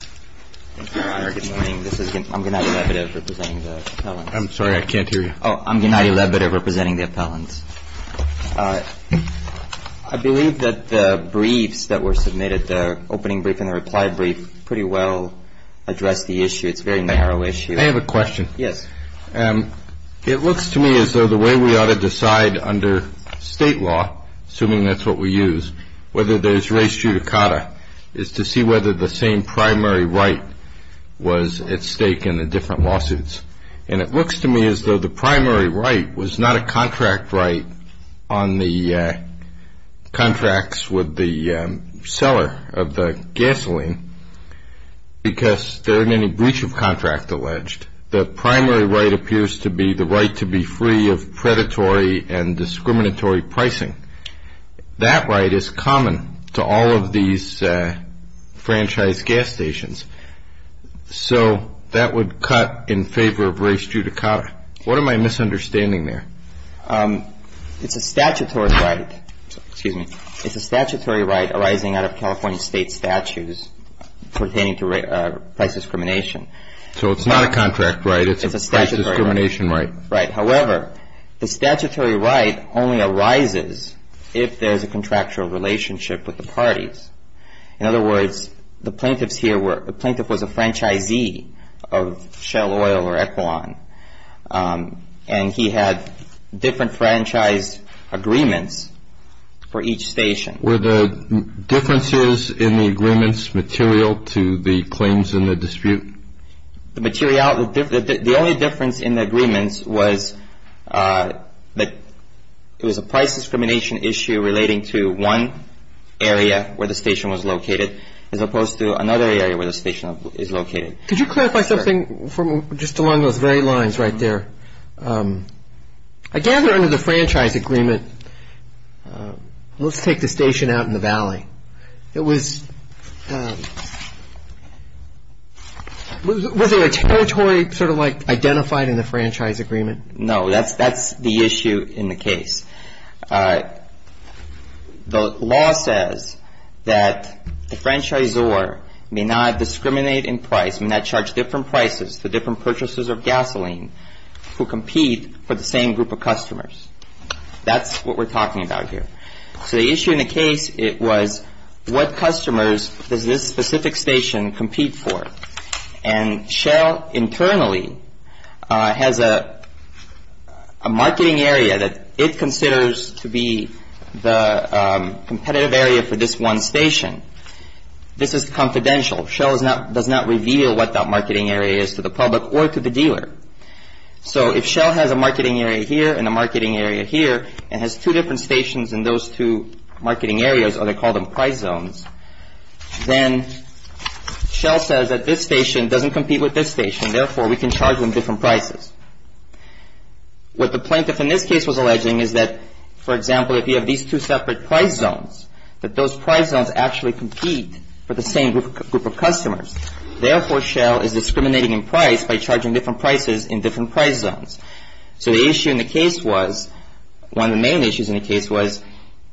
Good morning. I'm Gennady Lebedev representing the appellants. I'm sorry, I can't hear you. I'm Gennady Lebedev representing the appellants. I believe that the briefs that were submitted, the opening brief and the reply brief, pretty well address the issue. It's a very narrow issue. I have a question. Yes. It looks to me as though the way we ought to decide under state law, assuming that's what we use, whether there's res judicata, is to see whether the same primary right was at stake in the different lawsuits. And it looks to me as though the primary right was not a contract right on the contracts with the seller of the gasoline because there are many breach of contract alleged. The primary right appears to be the right to be free of predatory and discriminatory pricing. That right is common to all of these franchise gas stations. So that would cut in favor of res judicata. What am I misunderstanding there? It's a statutory right arising out of California state statutes pertaining to price discrimination. So it's not a contract right. It's a price discrimination right. Right. However, the statutory right only arises if there's a contractual relationship with the parties. In other words, the plaintiff was a franchisee of Shell Oil or Equilon, and he had different franchise agreements for each station. Were the differences in the agreements material to the claims in the dispute? The only difference in the agreements was that it was a price discrimination issue relating to one area where the station was located as opposed to another area where the station is located. Could you clarify something just along those very lines right there? I gather under the franchise agreement, let's take the station out in the valley. Was there a territory sort of like identified in the franchise agreement? No. That's the issue in the case. The law says that the franchisor may not discriminate in price, may not charge different prices for different purchases of gasoline, who compete for the same group of customers. That's what we're talking about here. So the issue in the case was what customers does this specific station compete for? And Shell internally has a marketing area that it considers to be the competitive area for this one station. This is confidential. Shell does not reveal what that marketing area is to the public or to the dealer. So if Shell has a marketing area here and a marketing area here and has two different stations in those two marketing areas, or they call them price zones, then Shell says that this station doesn't compete with this station, therefore we can charge them different prices. What the plaintiff in this case was alleging is that, for example, if you have these two separate price zones, that those price zones actually compete for the same group of customers. Therefore, Shell is discriminating in price by charging different prices in different price zones. So the issue in the case was, one of the main issues in the case was,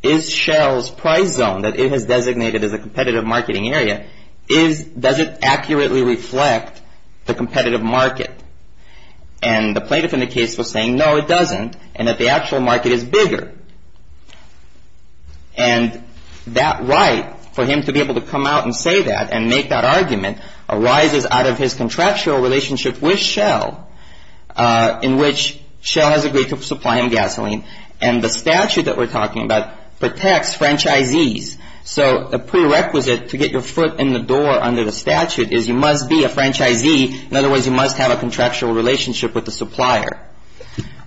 is Shell's price zone that it has designated as a competitive marketing area, does it accurately reflect the competitive market? And the plaintiff in the case was saying, no, it doesn't, and that the actual market is bigger. And that right for him to be able to come out and say that and make that argument arises out of his contractual relationship with Shell, in which Shell has agreed to supply him gasoline. And the statute that we're talking about protects franchisees. So a prerequisite to get your foot in the door under the statute is you must be a franchisee. In other words, you must have a contractual relationship with the supplier.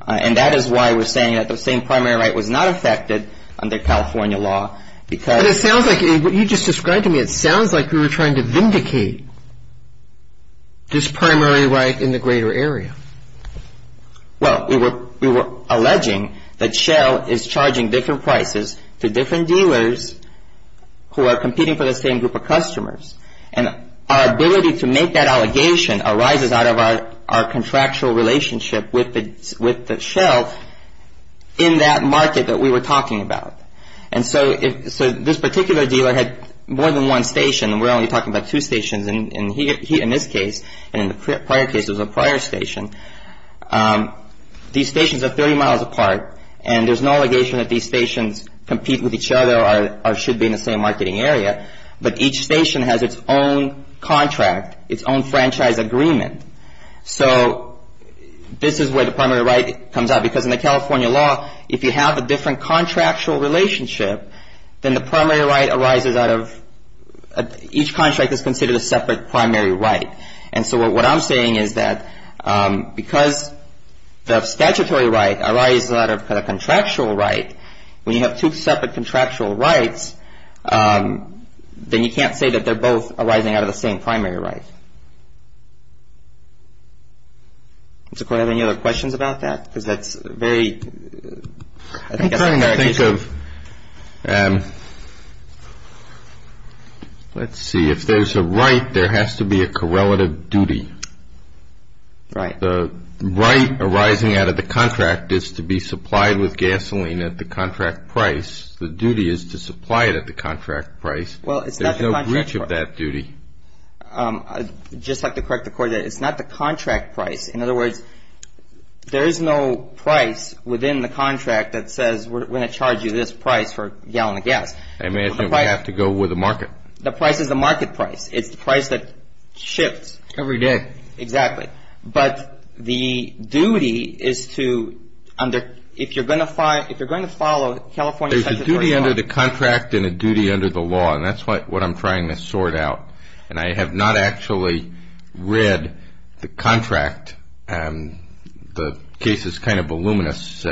And that is why we're saying that the same primary right was not affected under California law. But it sounds like what you just described to me, it sounds like you were trying to vindicate this primary right in the greater area. Well, we were alleging that Shell is charging different prices to different dealers And our ability to make that allegation arises out of our contractual relationship with Shell in that market that we were talking about. And so this particular dealer had more than one station, and we're only talking about two stations. And he, in this case, and in the prior case, it was a prior station. These stations are 30 miles apart, and there's no allegation that these stations compete with each other or should be in the same marketing area. But each station has its own contract, its own franchise agreement. So this is where the primary right comes out. Because in the California law, if you have a different contractual relationship, then the primary right arises out of each contract is considered a separate primary right. And so what I'm saying is that because the statutory right arises out of a contractual right, when you have two separate contractual rights, then you can't say that they're both arising out of the same primary right. Mr. Coyle, do you have any other questions about that? Because that's a very, I think, esoteric issue. I'm trying to think of, let's see, if there's a right, there has to be a correlative duty. Right. The right arising out of the contract is to be supplied with gasoline at the contract price. The duty is to supply it at the contract price. Well, it's not the contract price. There's no breach of that duty. I'd just like to correct the court that it's not the contract price. In other words, there is no price within the contract that says we're going to charge you this price for a gallon of gas. I imagine we have to go with the market. The price is the market price. It's the price that shifts. Every day. Every day. Exactly. But the duty is to, if you're going to follow California statute of the first law. There's a duty under the contract and a duty under the law, and that's what I'm trying to sort out. And I have not actually read the contract. The case is kind of voluminous.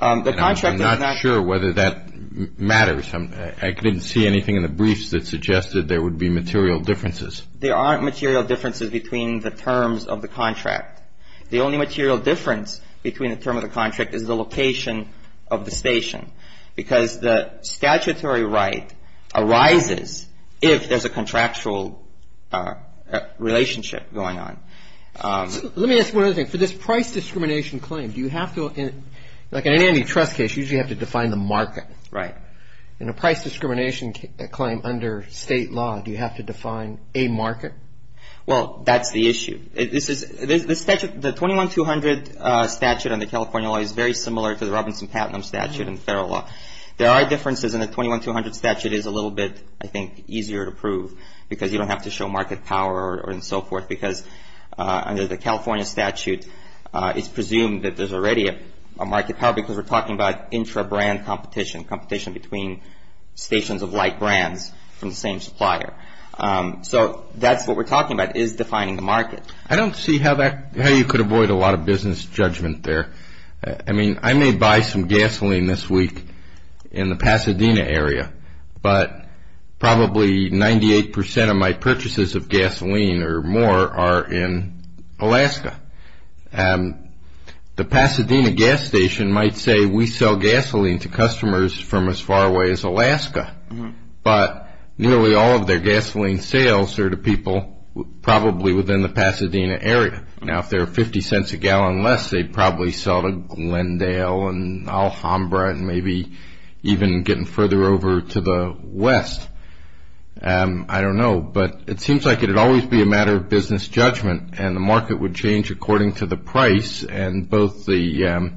I'm not sure whether that matters. I didn't see anything in the briefs that suggested there would be material differences. There aren't material differences between the terms of the contract. The only material difference between the terms of the contract is the location of the station, because the statutory right arises if there's a contractual relationship going on. Let me ask one other thing. For this price discrimination claim, do you have to, like in any trust case, usually you have to define the market. Right. In a price discrimination claim under state law, do you have to define a market? Well, that's the issue. The 21-200 statute under California law is very similar to the Robinson-Patton statute in federal law. There are differences, and the 21-200 statute is a little bit, I think, easier to prove, because you don't have to show market power and so forth, because under the California statute it's presumed that there's already a market power, because we're talking about intra-brand competition, competition between stations of like brands from the same supplier. So that's what we're talking about is defining the market. I don't see how you could avoid a lot of business judgment there. I mean, I may buy some gasoline this week in the Pasadena area, but probably 98% of my purchases of gasoline or more are in Alaska. The Pasadena gas station might say we sell gasoline to customers from as far away as Alaska, but nearly all of their gasoline sales are to people probably within the Pasadena area. Now, if they're 50 cents a gallon less, they'd probably sell to Glendale and Alhambra and maybe even getting further over to the west. I don't know, but it seems like it would always be a matter of business judgment, and the market would change according to the price, and both the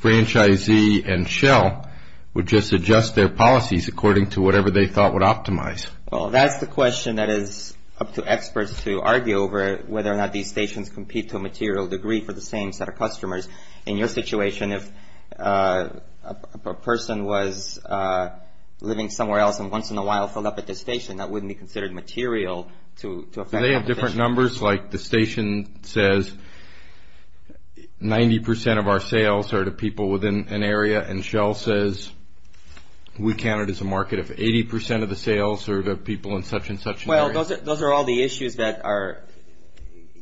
franchisee and shell would just adjust their policies according to whatever they thought would optimize. Well, that's the question that is up to experts to argue over, whether or not these stations compete to a material degree for the same set of customers. In your situation, if a person was living somewhere else and once in a while filled up at this station, that wouldn't be considered material to affect competition. Are there different numbers, like the station says 90% of our sales are to people within an area and shell says we count it as a market of 80% of the sales are to people in such and such an area? Well, those are all the issues that are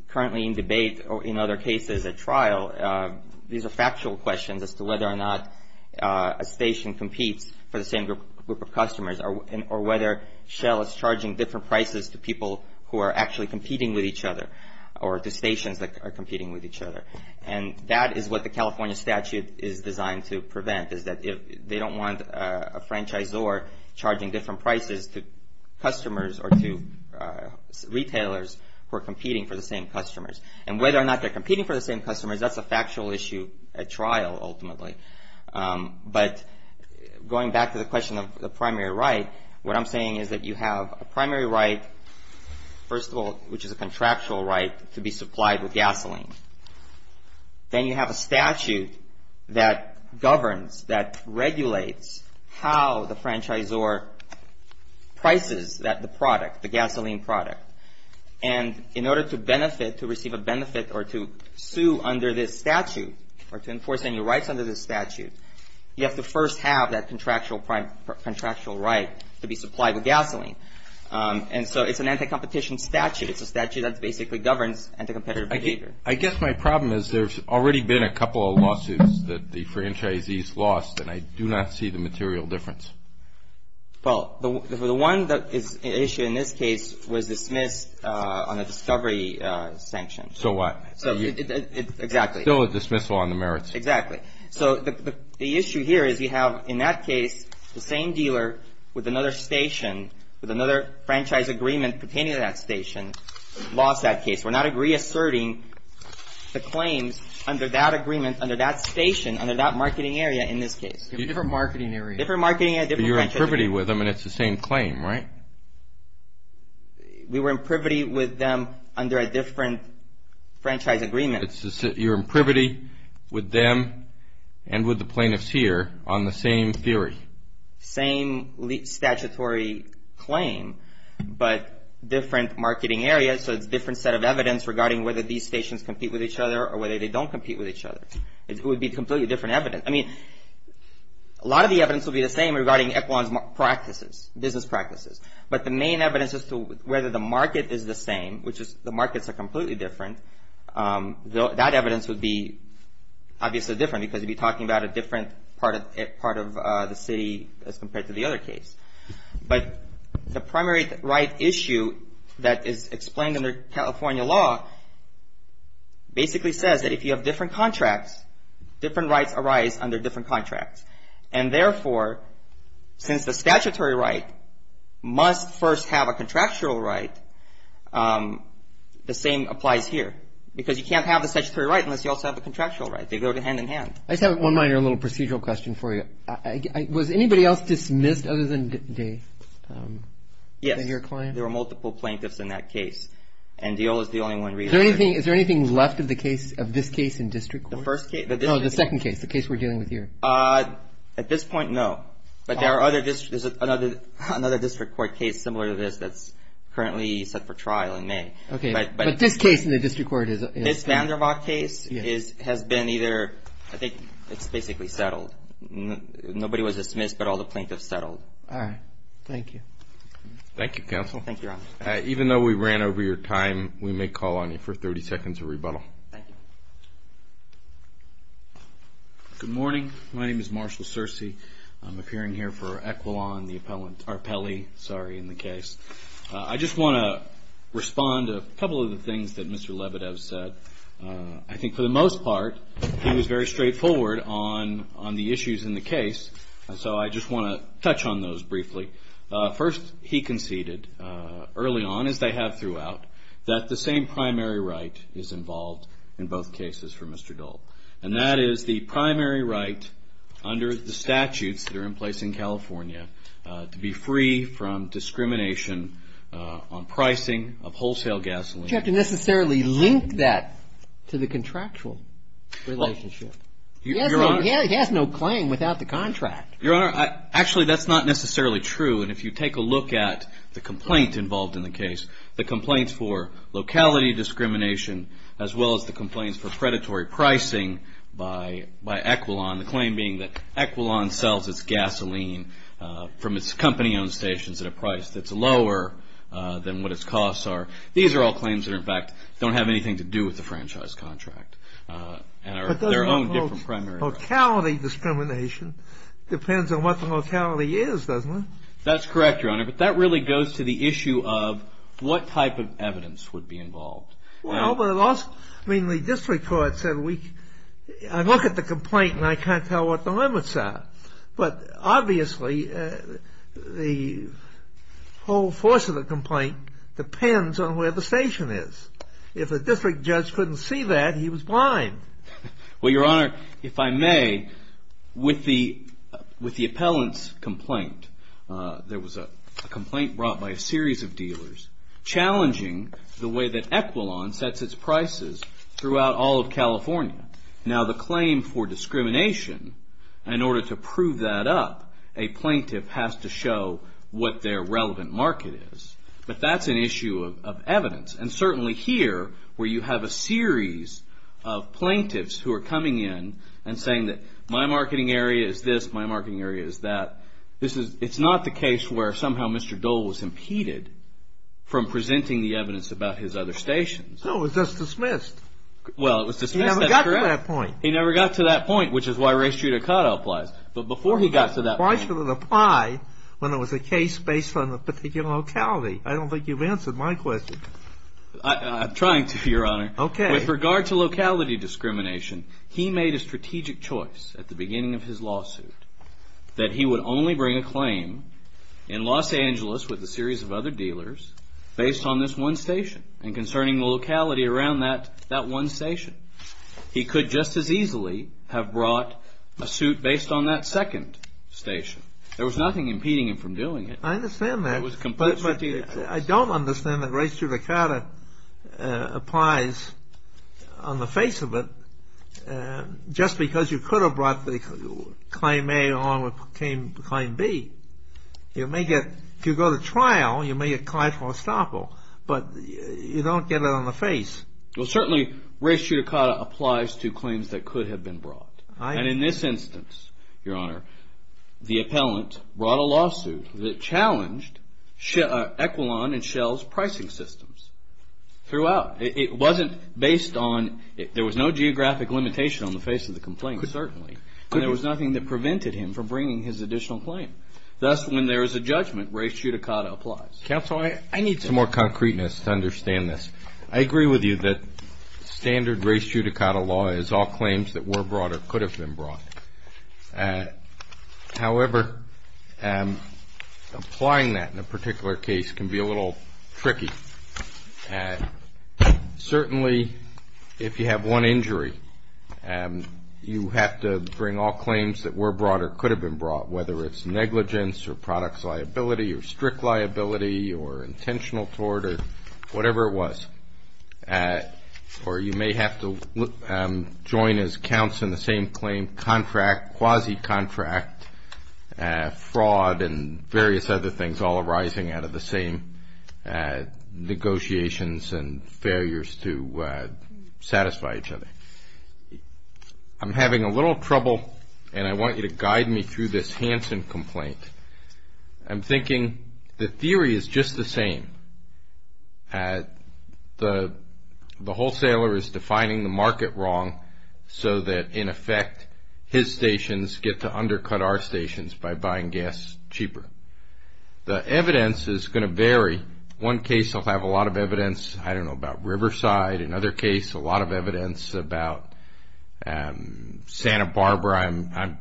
currently in debate or in other cases at trial. These are factual questions as to whether or not a station competes for the same group of customers or whether shell is charging different prices to people who are actually competing with each other or to stations that are competing with each other. And that is what the California statute is designed to prevent, is that they don't want a franchisor charging different prices to customers or to retailers who are competing for the same customers. And whether or not they're competing for the same customers, that's a factual issue at trial ultimately. But going back to the question of the primary right, what I'm saying is that you have a primary right, first of all, which is a contractual right to be supplied with gasoline. Then you have a statute that governs, that regulates how the franchisor prices the product, the gasoline product. And in order to benefit, to receive a benefit or to sue under this statute or to enforce any rights under this statute, you have to first have that contractual right to be supplied with gasoline. And so it's an anti-competition statute. It's a statute that basically governs anti-competitive behavior. I guess my problem is there's already been a couple of lawsuits that the franchisees lost, and I do not see the material difference. Well, the one issue in this case was dismissed on a discovery sanction. So what? Exactly. Still a dismissal on the merits. Exactly. So the issue here is you have, in that case, the same dealer with another station, with another franchise agreement pertaining to that station, lost that case. We're not reasserting the claims under that agreement, under that station, under that marketing area in this case. Different marketing area. Different marketing area, different franchise agreement. But you're in privity with them, and it's the same claim, right? We were in privity with them under a different franchise agreement. You're in privity with them and with the plaintiffs here on the same theory. Same statutory claim, but different marketing area, so it's a different set of evidence regarding whether these stations compete with each other or whether they don't compete with each other. It would be completely different evidence. I mean, a lot of the evidence will be the same regarding Equan's practices, business practices, but the main evidence as to whether the market is the same, which is the markets are completely different, that evidence would be obviously different because you'd be talking about a different part of the city as compared to the other case. But the primary right issue that is explained under California law basically says that if you have different contracts, different rights arise under different contracts. And therefore, since the statutory right must first have a contractual right, the same applies here because you can't have the statutory right unless you also have a contractual right. They go hand in hand. I just have one minor little procedural question for you. Was anybody else dismissed other than your client? Yes, there were multiple plaintiffs in that case, and Deola is the only one. Is there anything left of the case, of this case in district court? The first case? No, the second case, the case we're dealing with here. At this point, no. But there are other districts. There's another district court case similar to this that's currently set for trial in May. Okay. But this case in the district court is? This Vandervoort case has been either, I think it's basically settled. Nobody was dismissed, but all the plaintiffs settled. All right. Thank you. Thank you, counsel. Thank you, Your Honor. Even though we ran over your time, we may call on you for 30 seconds of rebuttal. Thank you. Good morning. My name is Marshall Searcy. I'm appearing here for Equilon, the appellee in the case. I just want to respond to a couple of the things that Mr. Lebedev said. I think for the most part, he was very straightforward on the issues in the case, so I just want to touch on those briefly. First, he conceded early on, as they have throughout, that the same primary right is involved in both cases for Mr. Dole, and that is the primary right under the statutes that are in place in California to be free from discrimination on pricing of wholesale gasoline. You don't have to necessarily link that to the contractual relationship. He has no claim without the contract. Your Honor, actually, that's not necessarily true, and if you take a look at the complaint involved in the case, the complaints for locality discrimination, as well as the complaints for predatory pricing by Equilon, the claim being that Equilon sells its gasoline from its company-owned stations at a price that's lower than what its costs are. These are all claims that, in fact, don't have anything to do with the franchise contract, and are their own different primary rights. Locality discrimination depends on what the locality is, doesn't it? That's correct, Your Honor, but that really goes to the issue of what type of evidence would be involved. Well, but it also, I mean, the district court said we, I look at the complaint and I can't tell what the limits are, but obviously the whole force of the complaint depends on where the station is. If a district judge couldn't see that, he was blind. Well, Your Honor, if I may, with the appellant's complaint, there was a complaint brought by a series of dealers challenging the way that Equilon sets its prices throughout all of California. Now, the claim for discrimination, in order to prove that up, a plaintiff has to show what their relevant market is, but that's an issue of evidence, and certainly here where you have a series of plaintiffs who are coming in and saying that my marketing area is this, my marketing area is that, it's not the case where somehow Mr. Dole was impeded from presenting the evidence about his other stations. No, it was just dismissed. Well, it was dismissed, that's correct. He never got to that point. He never got to that point, which is why race judicata applies, but before he got to that point. Why should it apply when it was a case based on a particular locality? I don't think you've answered my question. I'm trying to, Your Honor. Okay. With regard to locality discrimination, he made a strategic choice at the beginning of his lawsuit that he would only bring a claim in Los Angeles with a series of other dealers based on this one station and concerning the locality around that one station. He could just as easily have brought a suit based on that second station. There was nothing impeding him from doing it. I understand that. It was a complete strategic choice. But I don't understand that race judicata applies on the face of it just because you could have brought the claim A along with claim B. If you go to trial, you may get client for estoppel, but you don't get it on the face. Well, certainly race judicata applies to claims that could have been brought. And in this instance, Your Honor, the appellant brought a lawsuit that challenged Equilon and Shell's pricing systems throughout. It wasn't based on – there was no geographic limitation on the face of the complaint, certainly, and there was nothing that prevented him from bringing his additional claim. Thus, when there is a judgment, race judicata applies. Counsel, I need some more concreteness to understand this. I agree with you that standard race judicata law is all claims that were brought or could have been brought. However, applying that in a particular case can be a little tricky. Certainly, if you have one injury, you have to bring all claims that were brought or could have been brought, whether it's negligence or products liability or strict liability or intentional tort or whatever it was. Or you may have to join as counts in the same claim contract, quasi-contract, fraud and various other things all arising out of the same negotiations and failures to satisfy each other. I'm having a little trouble, and I want you to guide me through this Hansen complaint. I'm thinking the theory is just the same. The wholesaler is defining the market wrong so that, in effect, his stations get to undercut our stations by buying gas cheaper. The evidence is going to vary. One case will have a lot of evidence, I don't know, about Riverside. Another case, a lot of evidence about Santa Barbara.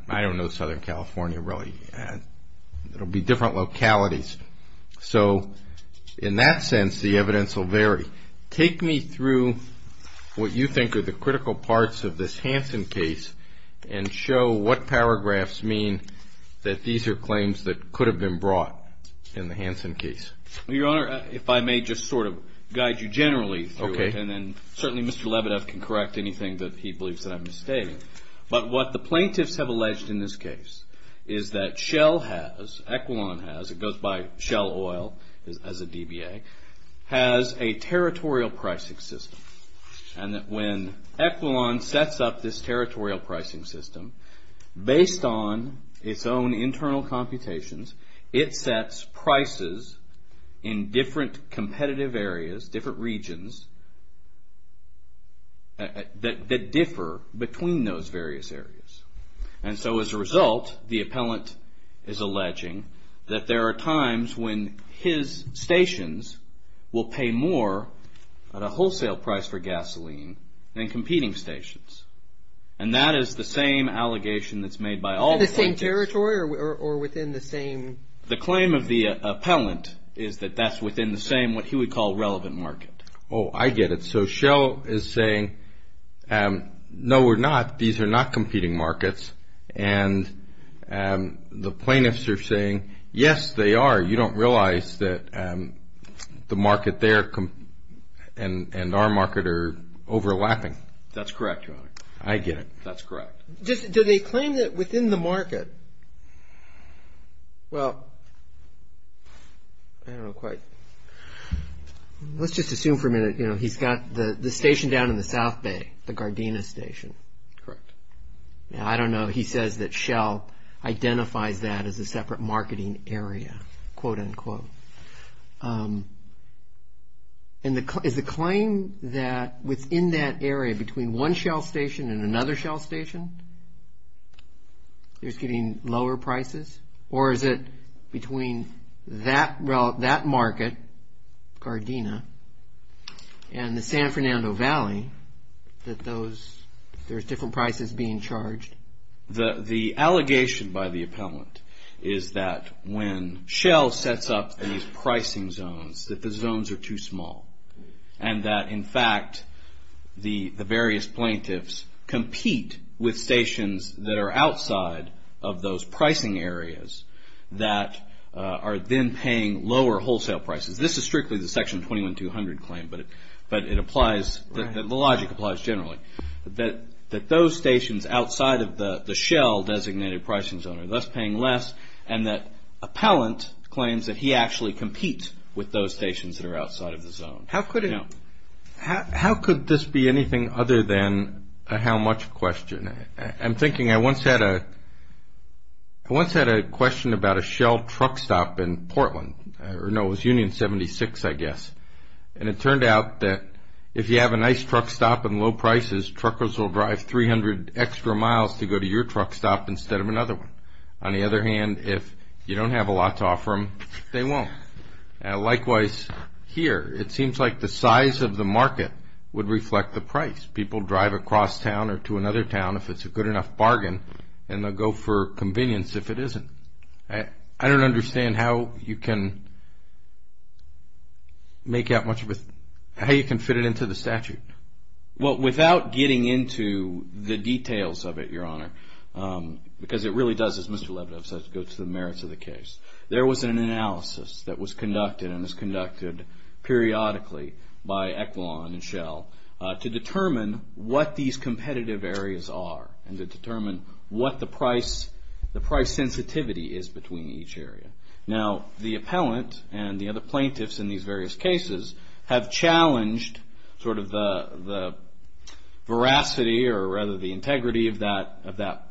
I don't know Southern California really. It will be different localities. So in that sense, the evidence will vary. Take me through what you think are the critical parts of this Hansen case and show what paragraphs mean that these are claims that could have been brought in the Hansen case. Well, Your Honor, if I may just sort of guide you generally through it, and then certainly Mr. Lebedev can correct anything that he believes that I'm misstating. But what the plaintiffs have alleged in this case is that Shell has, or Equilon has, it goes by Shell Oil as a DBA, has a territorial pricing system. And that when Equilon sets up this territorial pricing system, based on its own internal computations, it sets prices in different competitive areas, different regions, that differ between those various areas. And so as a result, the appellant is alleging that there are times when his stations will pay more at a wholesale price for gasoline than competing stations. And that is the same allegation that's made by all the plaintiffs. In the same territory or within the same? The claim of the appellant is that that's within the same, what he would call, relevant market. Oh, I get it. And so Shell is saying, no, we're not. These are not competing markets. And the plaintiffs are saying, yes, they are. You don't realize that the market there and our market are overlapping. That's correct, Your Honor. I get it. That's correct. Do they claim that within the market, well, I don't know quite. Let's just assume for a minute, you know, he's got the station down in the South Bay, the Gardena station. Correct. Now, I don't know. He says that Shell identifies that as a separate marketing area, quote, unquote. And is the claim that within that area, between one Shell station and another Shell station, there's getting lower prices? Or is it between that market, Gardena, and the San Fernando Valley that there's different prices being charged? The allegation by the appellant is that when Shell sets up these pricing zones, that the zones are too small. And that, in fact, the various plaintiffs compete with stations that are outside of those pricing areas that are then paying lower wholesale prices. This is strictly the Section 21-200 claim, but it applies, the logic applies generally. That those stations outside of the Shell designated pricing zone are thus paying less, and that appellant claims that he actually competes with those stations that are outside of the zone. How could this be anything other than a how much question? I'm thinking I once had a question about a Shell truck stop in Portland. No, it was Union 76, I guess. And it turned out that if you have a nice truck stop and low prices, truckers will drive 300 extra miles to go to your truck stop instead of another one. On the other hand, if you don't have a lot to offer them, they won't. Likewise here, it seems like the size of the market would reflect the price. People drive across town or to another town if it's a good enough bargain, and they'll go for convenience if it isn't. I don't understand how you can make out much of a, how you can fit it into the statute. Well, without getting into the details of it, Your Honor, because it really does, as Mr. Levidoff says, go to the merits of the case, there was an analysis that was conducted and is conducted periodically by Equilon and Shell to determine what these competitive areas are and to determine what the price sensitivity is between each area. Now, the appellant and the other plaintiffs in these various cases have challenged sort of the veracity or rather the integrity of that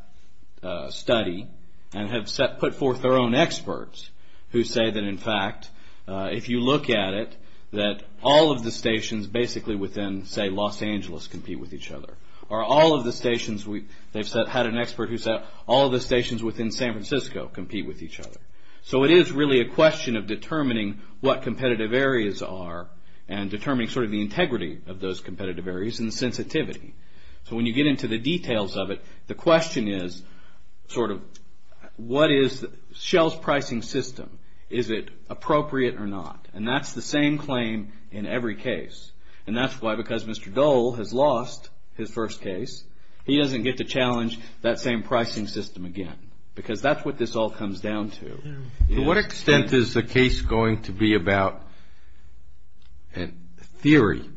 study and have put forth their own experts who say that, in fact, if you look at it, that all of the stations basically within, say, Los Angeles compete with each other. Or all of the stations, they've had an expert who said all of the stations within San Francisco compete with each other. So, it is really a question of determining what competitive areas are and determining sort of the integrity of those competitive areas and the sensitivity. So, when you get into the details of it, the question is sort of what is Shell's pricing system? Is it appropriate or not? And that's the same claim in every case. And that's why because Mr. Dole has lost his first case, he doesn't get to challenge that same pricing system again because that's what this all comes down to. To what extent is the case going to be about theory?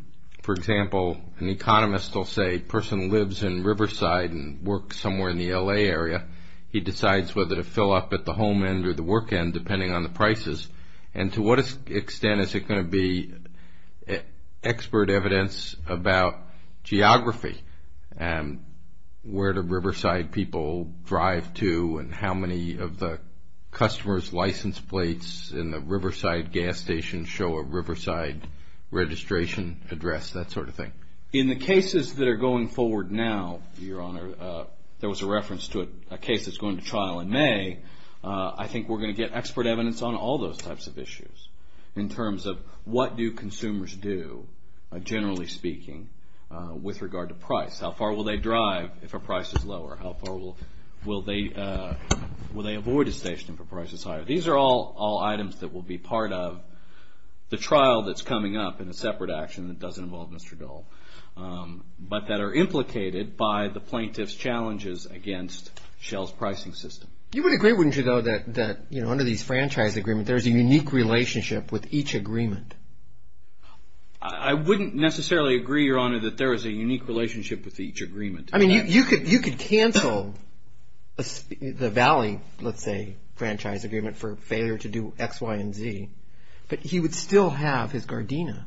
For example, an economist will say a person lives in Riverside and works somewhere in the L.A. area. He decides whether to fill up at the home end or the work end depending on the prices. And to what extent is it going to be expert evidence about geography and where do Riverside people drive to and how many of the customers' license plates in the Riverside gas station show a Riverside registration address, that sort of thing? In the cases that are going forward now, Your Honor, there was a reference to a case that's going to trial in May. I think we're going to get expert evidence on all those types of issues in terms of what do consumers do, generally speaking, with regard to price? How far will they drive if a price is lower? How far will they avoid a station if a price is higher? These are all items that will be part of the trial that's coming up in a separate action that doesn't involve Mr. Dole, but that are implicated by the plaintiff's challenges against Shell's pricing system. You would agree, wouldn't you, though, that under these franchise agreements, there's a unique relationship with each agreement? I wouldn't necessarily agree, Your Honor, that there is a unique relationship with each agreement. I mean, you could cancel the Valley, let's say, franchise agreement for failure to do X, Y, and Z, but he would still have his Gardena.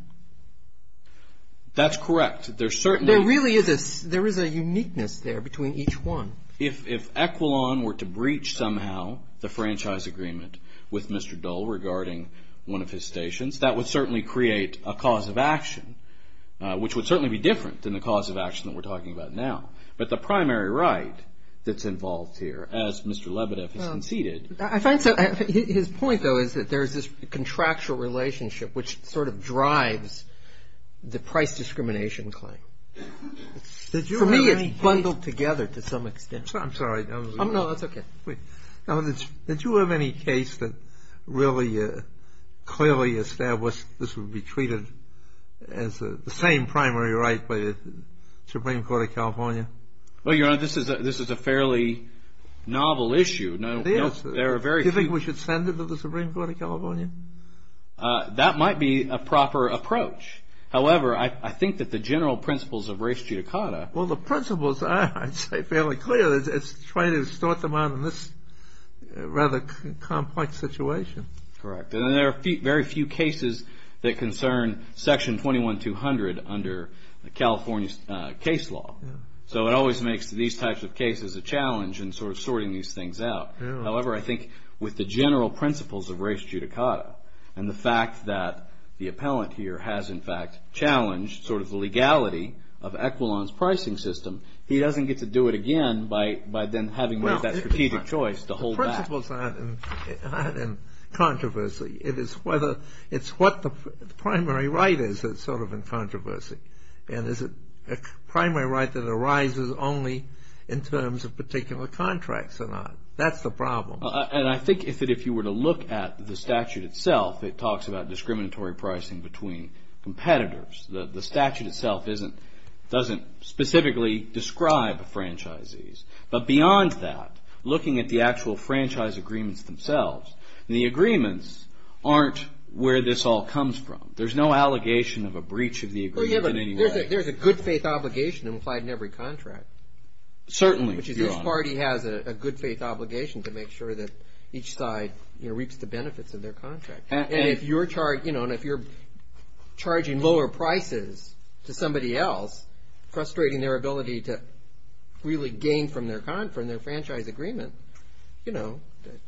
That's correct. There really is a uniqueness there between each one. If Equilon were to breach somehow the franchise agreement with Mr. Dole regarding one of his stations, that would certainly create a cause of action, which would certainly be different than the cause of action that we're talking about now. But the primary right that's involved here, as Mr. Lebedev has conceded. His point, though, is that there's this contractual relationship which sort of drives the price discrimination claim. For me, it's bundled together to some extent. I'm sorry. No, that's okay. Now, did you have any case that really clearly established this would be treated as the same primary right by the Supreme Court of California? Well, Your Honor, this is a fairly novel issue. Do you think we should send it to the Supreme Court of California? That might be a proper approach. However, I think that the general principles of res judicata. Well, the principles are, I'd say, fairly clear. It's trying to sort them out in this rather complex situation. Correct. And there are very few cases that concern Section 21-200 under California's case law. So it always makes these types of cases a challenge in sort of sorting these things out. However, I think with the general principles of res judicata and the fact that the appellant here has, in fact, challenged sort of the legality of Equilon's pricing system, he doesn't get to do it again by then having to make that strategic choice to hold back. The principles aren't in controversy. It's what the primary right is that's sort of in controversy. And is it a primary right that arises only in terms of particular contracts or not? That's the problem. And I think that if you were to look at the statute itself, it talks about discriminatory pricing between competitors. The statute itself doesn't specifically describe franchisees. But beyond that, looking at the actual franchise agreements themselves, the agreements aren't where this all comes from. There's no allegation of a breach of the agreement anywhere. There's a good faith obligation implied in every contract. Certainly. Which is each party has a good faith obligation to make sure that each side reaps the benefits of their contract. And if you're charging lower prices to somebody else, frustrating their ability to really gain from their franchise agreement, it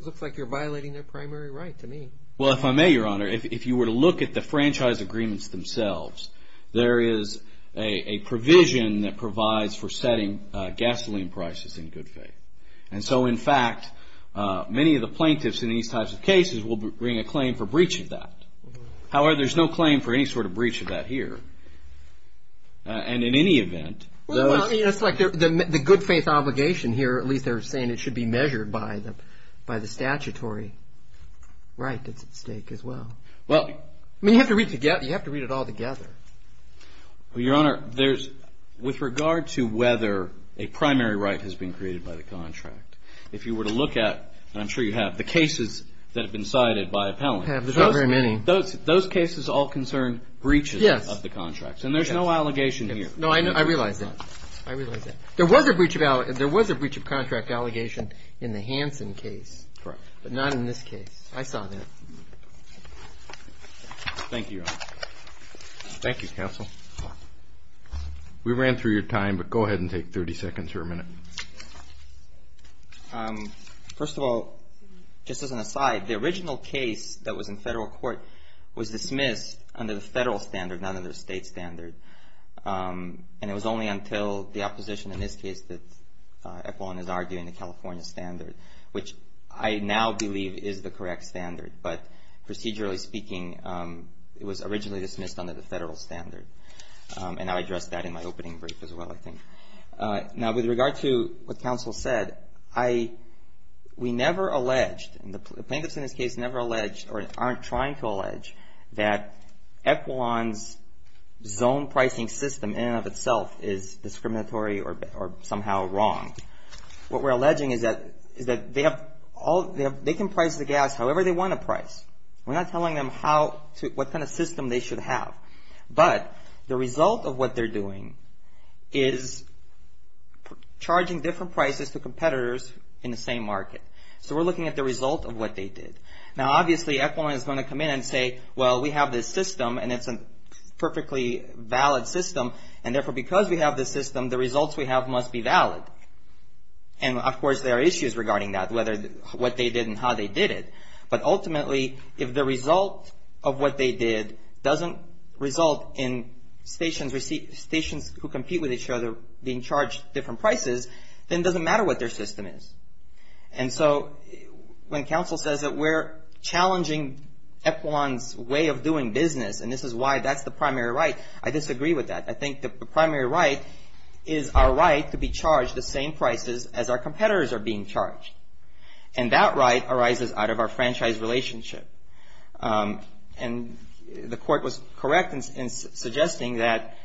looks like you're violating their primary right to me. Well, if I may, Your Honor, if you were to look at the franchise agreements themselves, there is a provision that provides for setting gasoline prices in good faith. And so, in fact, many of the plaintiffs in these types of cases will bring a claim for breach of that. However, there's no claim for any sort of breach of that here. And in any event. It's like the good faith obligation here. At least they're saying it should be measured by the statutory right that's at stake as well. Well, you have to read it all together. Well, Your Honor, with regard to whether a primary right has been created by the contract, if you were to look at, and I'm sure you have, the cases that have been cited by appellants. There's not very many. Those cases all concern breaches of the contracts. And there's no allegation here. No, I realize that. I realize that. There was a breach of contract allegation in the Hansen case. Correct. But not in this case. I saw that. Thank you, Your Honor. Thank you, counsel. We ran through your time, but go ahead and take 30 seconds or a minute. First of all, just as an aside, the original case that was in federal court was dismissed under the federal standard, not under the state standard. And it was only until the opposition in this case that appellant is arguing the California standard, which I now believe is the correct standard. But procedurally speaking, it was originally dismissed under the federal standard. And I addressed that in my opening brief as well, I think. Now, with regard to what counsel said, we never alleged, and the plaintiffs in this case never alleged or aren't trying to allege, that Equilon's zone pricing system in and of itself is discriminatory or somehow wrong. What we're alleging is that they can price the gas however they want to price. We're not telling them what kind of system they should have. But the result of what they're doing is charging different prices to competitors in the same market. So we're looking at the result of what they did. Now, obviously, Equilon is going to come in and say, well, we have this system, and it's a perfectly valid system, and therefore, because we have this system, the results we have must be valid. And, of course, there are issues regarding that, what they did and how they did it. But ultimately, if the result of what they did doesn't result in stations who compete with each other being charged different prices, then it doesn't matter what their system is. And so when counsel says that we're challenging Equilon's way of doing business, and this is why that's the primary right, I disagree with that. I think the primary right is our right to be charged the same prices as our competitors are being charged. And that right arises out of our franchise relationship. And the court was correct in suggesting that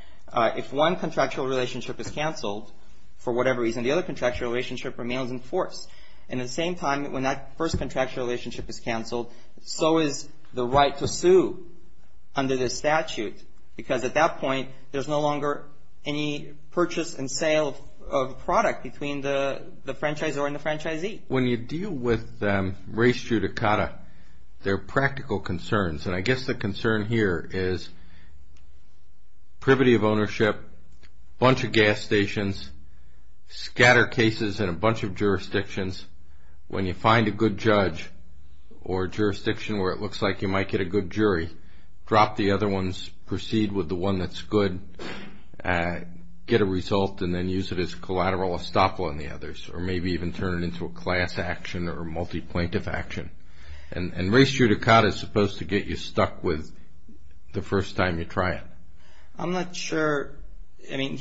if one contractual relationship is canceled for whatever reason, the other contractual relationship remains in force. And at the same time, when that first contractual relationship is canceled, so is the right to sue under this statute, because at that point, there's no longer any purchase and sale of a product between the franchisor and the franchisee. When you deal with race judicata, there are practical concerns. And I guess the concern here is privity of ownership, a bunch of gas stations, scatter cases in a bunch of jurisdictions. When you find a good judge or jurisdiction where it looks like you might get a good jury, drop the other ones, proceed with the one that's good, get a result, and then use it as collateral estoppel on the others, or maybe even turn it into a class action or multi-plaintiff action. And race judicata is supposed to get you stuck with the first time you try it. I'm not sure. I mean,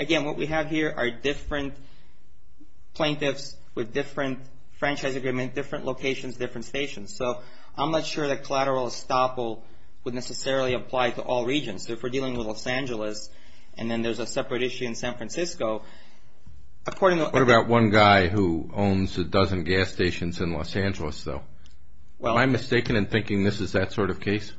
again, what we have here are different plaintiffs with different franchise agreement, different locations, different stations. So I'm not sure that collateral estoppel would necessarily apply to all regions. So if we're dealing with Los Angeles, and then there's a separate issue in San Francisco. What about one guy who owns a dozen gas stations in Los Angeles, though? Am I mistaken in thinking this is that sort of case?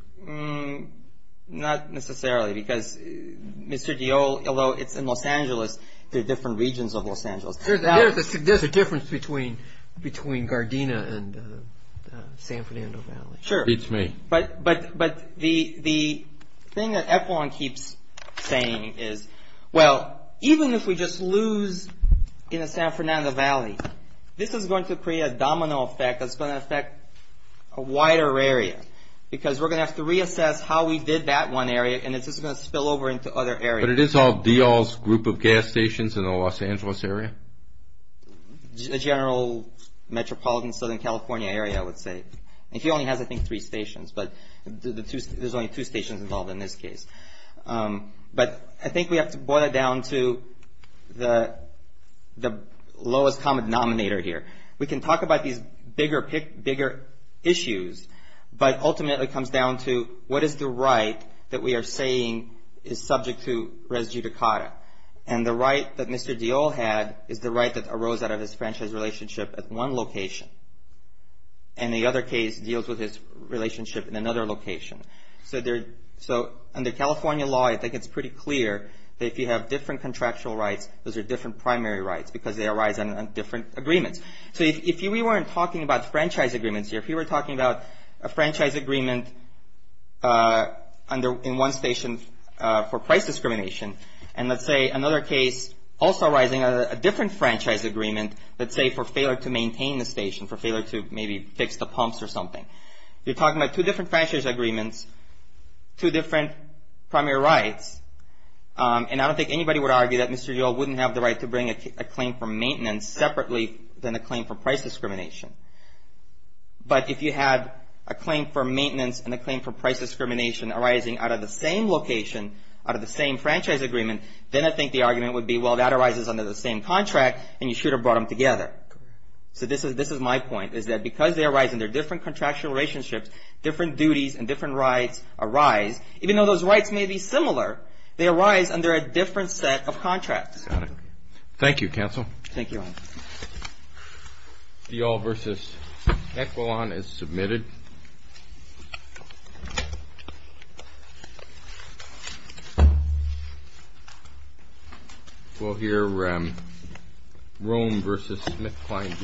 Not necessarily, because Mr. Diol, although it's in Los Angeles, there are different regions of Los Angeles. There's a difference between Gardena and San Fernando Valley. Sure. Beats me. But the thing that Epelon keeps saying is, well, even if we just lose in the San Fernando Valley, this is going to create a domino effect that's going to affect a wider area because we're going to have to reassess how we did that one area, and it's just going to spill over into other areas. But it is all Diol's group of gas stations in the Los Angeles area? The general metropolitan Southern California area, I would say. And he only has, I think, three stations, but there's only two stations involved in this case. But I think we have to boil it down to the lowest common denominator here. We can talk about these bigger issues, but ultimately it comes down to, what is the right that we are saying is subject to res judicata? And the right that Mr. Diol had is the right that arose out of his franchise relationship at one location, and the other case deals with his relationship in another location. So under California law, I think it's pretty clear that if you have different contractual rights, those are different primary rights because they arise on different agreements. So if we weren't talking about franchise agreements here, if we were talking about a franchise agreement in one station for price discrimination, and let's say another case also arising, a different franchise agreement, let's say for failure to maintain the station, for failure to maybe fix the pumps or something. You're talking about two different franchise agreements, two different primary rights, and I don't think anybody would argue that Mr. Diol wouldn't have the right to bring a claim for maintenance separately than a claim for price discrimination. But if you had a claim for maintenance and a claim for price discrimination arising out of the same location, out of the same franchise agreement, then I think the argument would be, well, that arises under the same contract, and you should have brought them together. So this is my point, is that because they arise in their different contractual relationships, different duties and different rights arise. Even though those rights may be similar, they arise under a different set of contracts. Got it. Thank you, Counsel. Thank you, Ryan. Diol v. Equilon is submitted. We'll hear Rome v. Smith-Klein.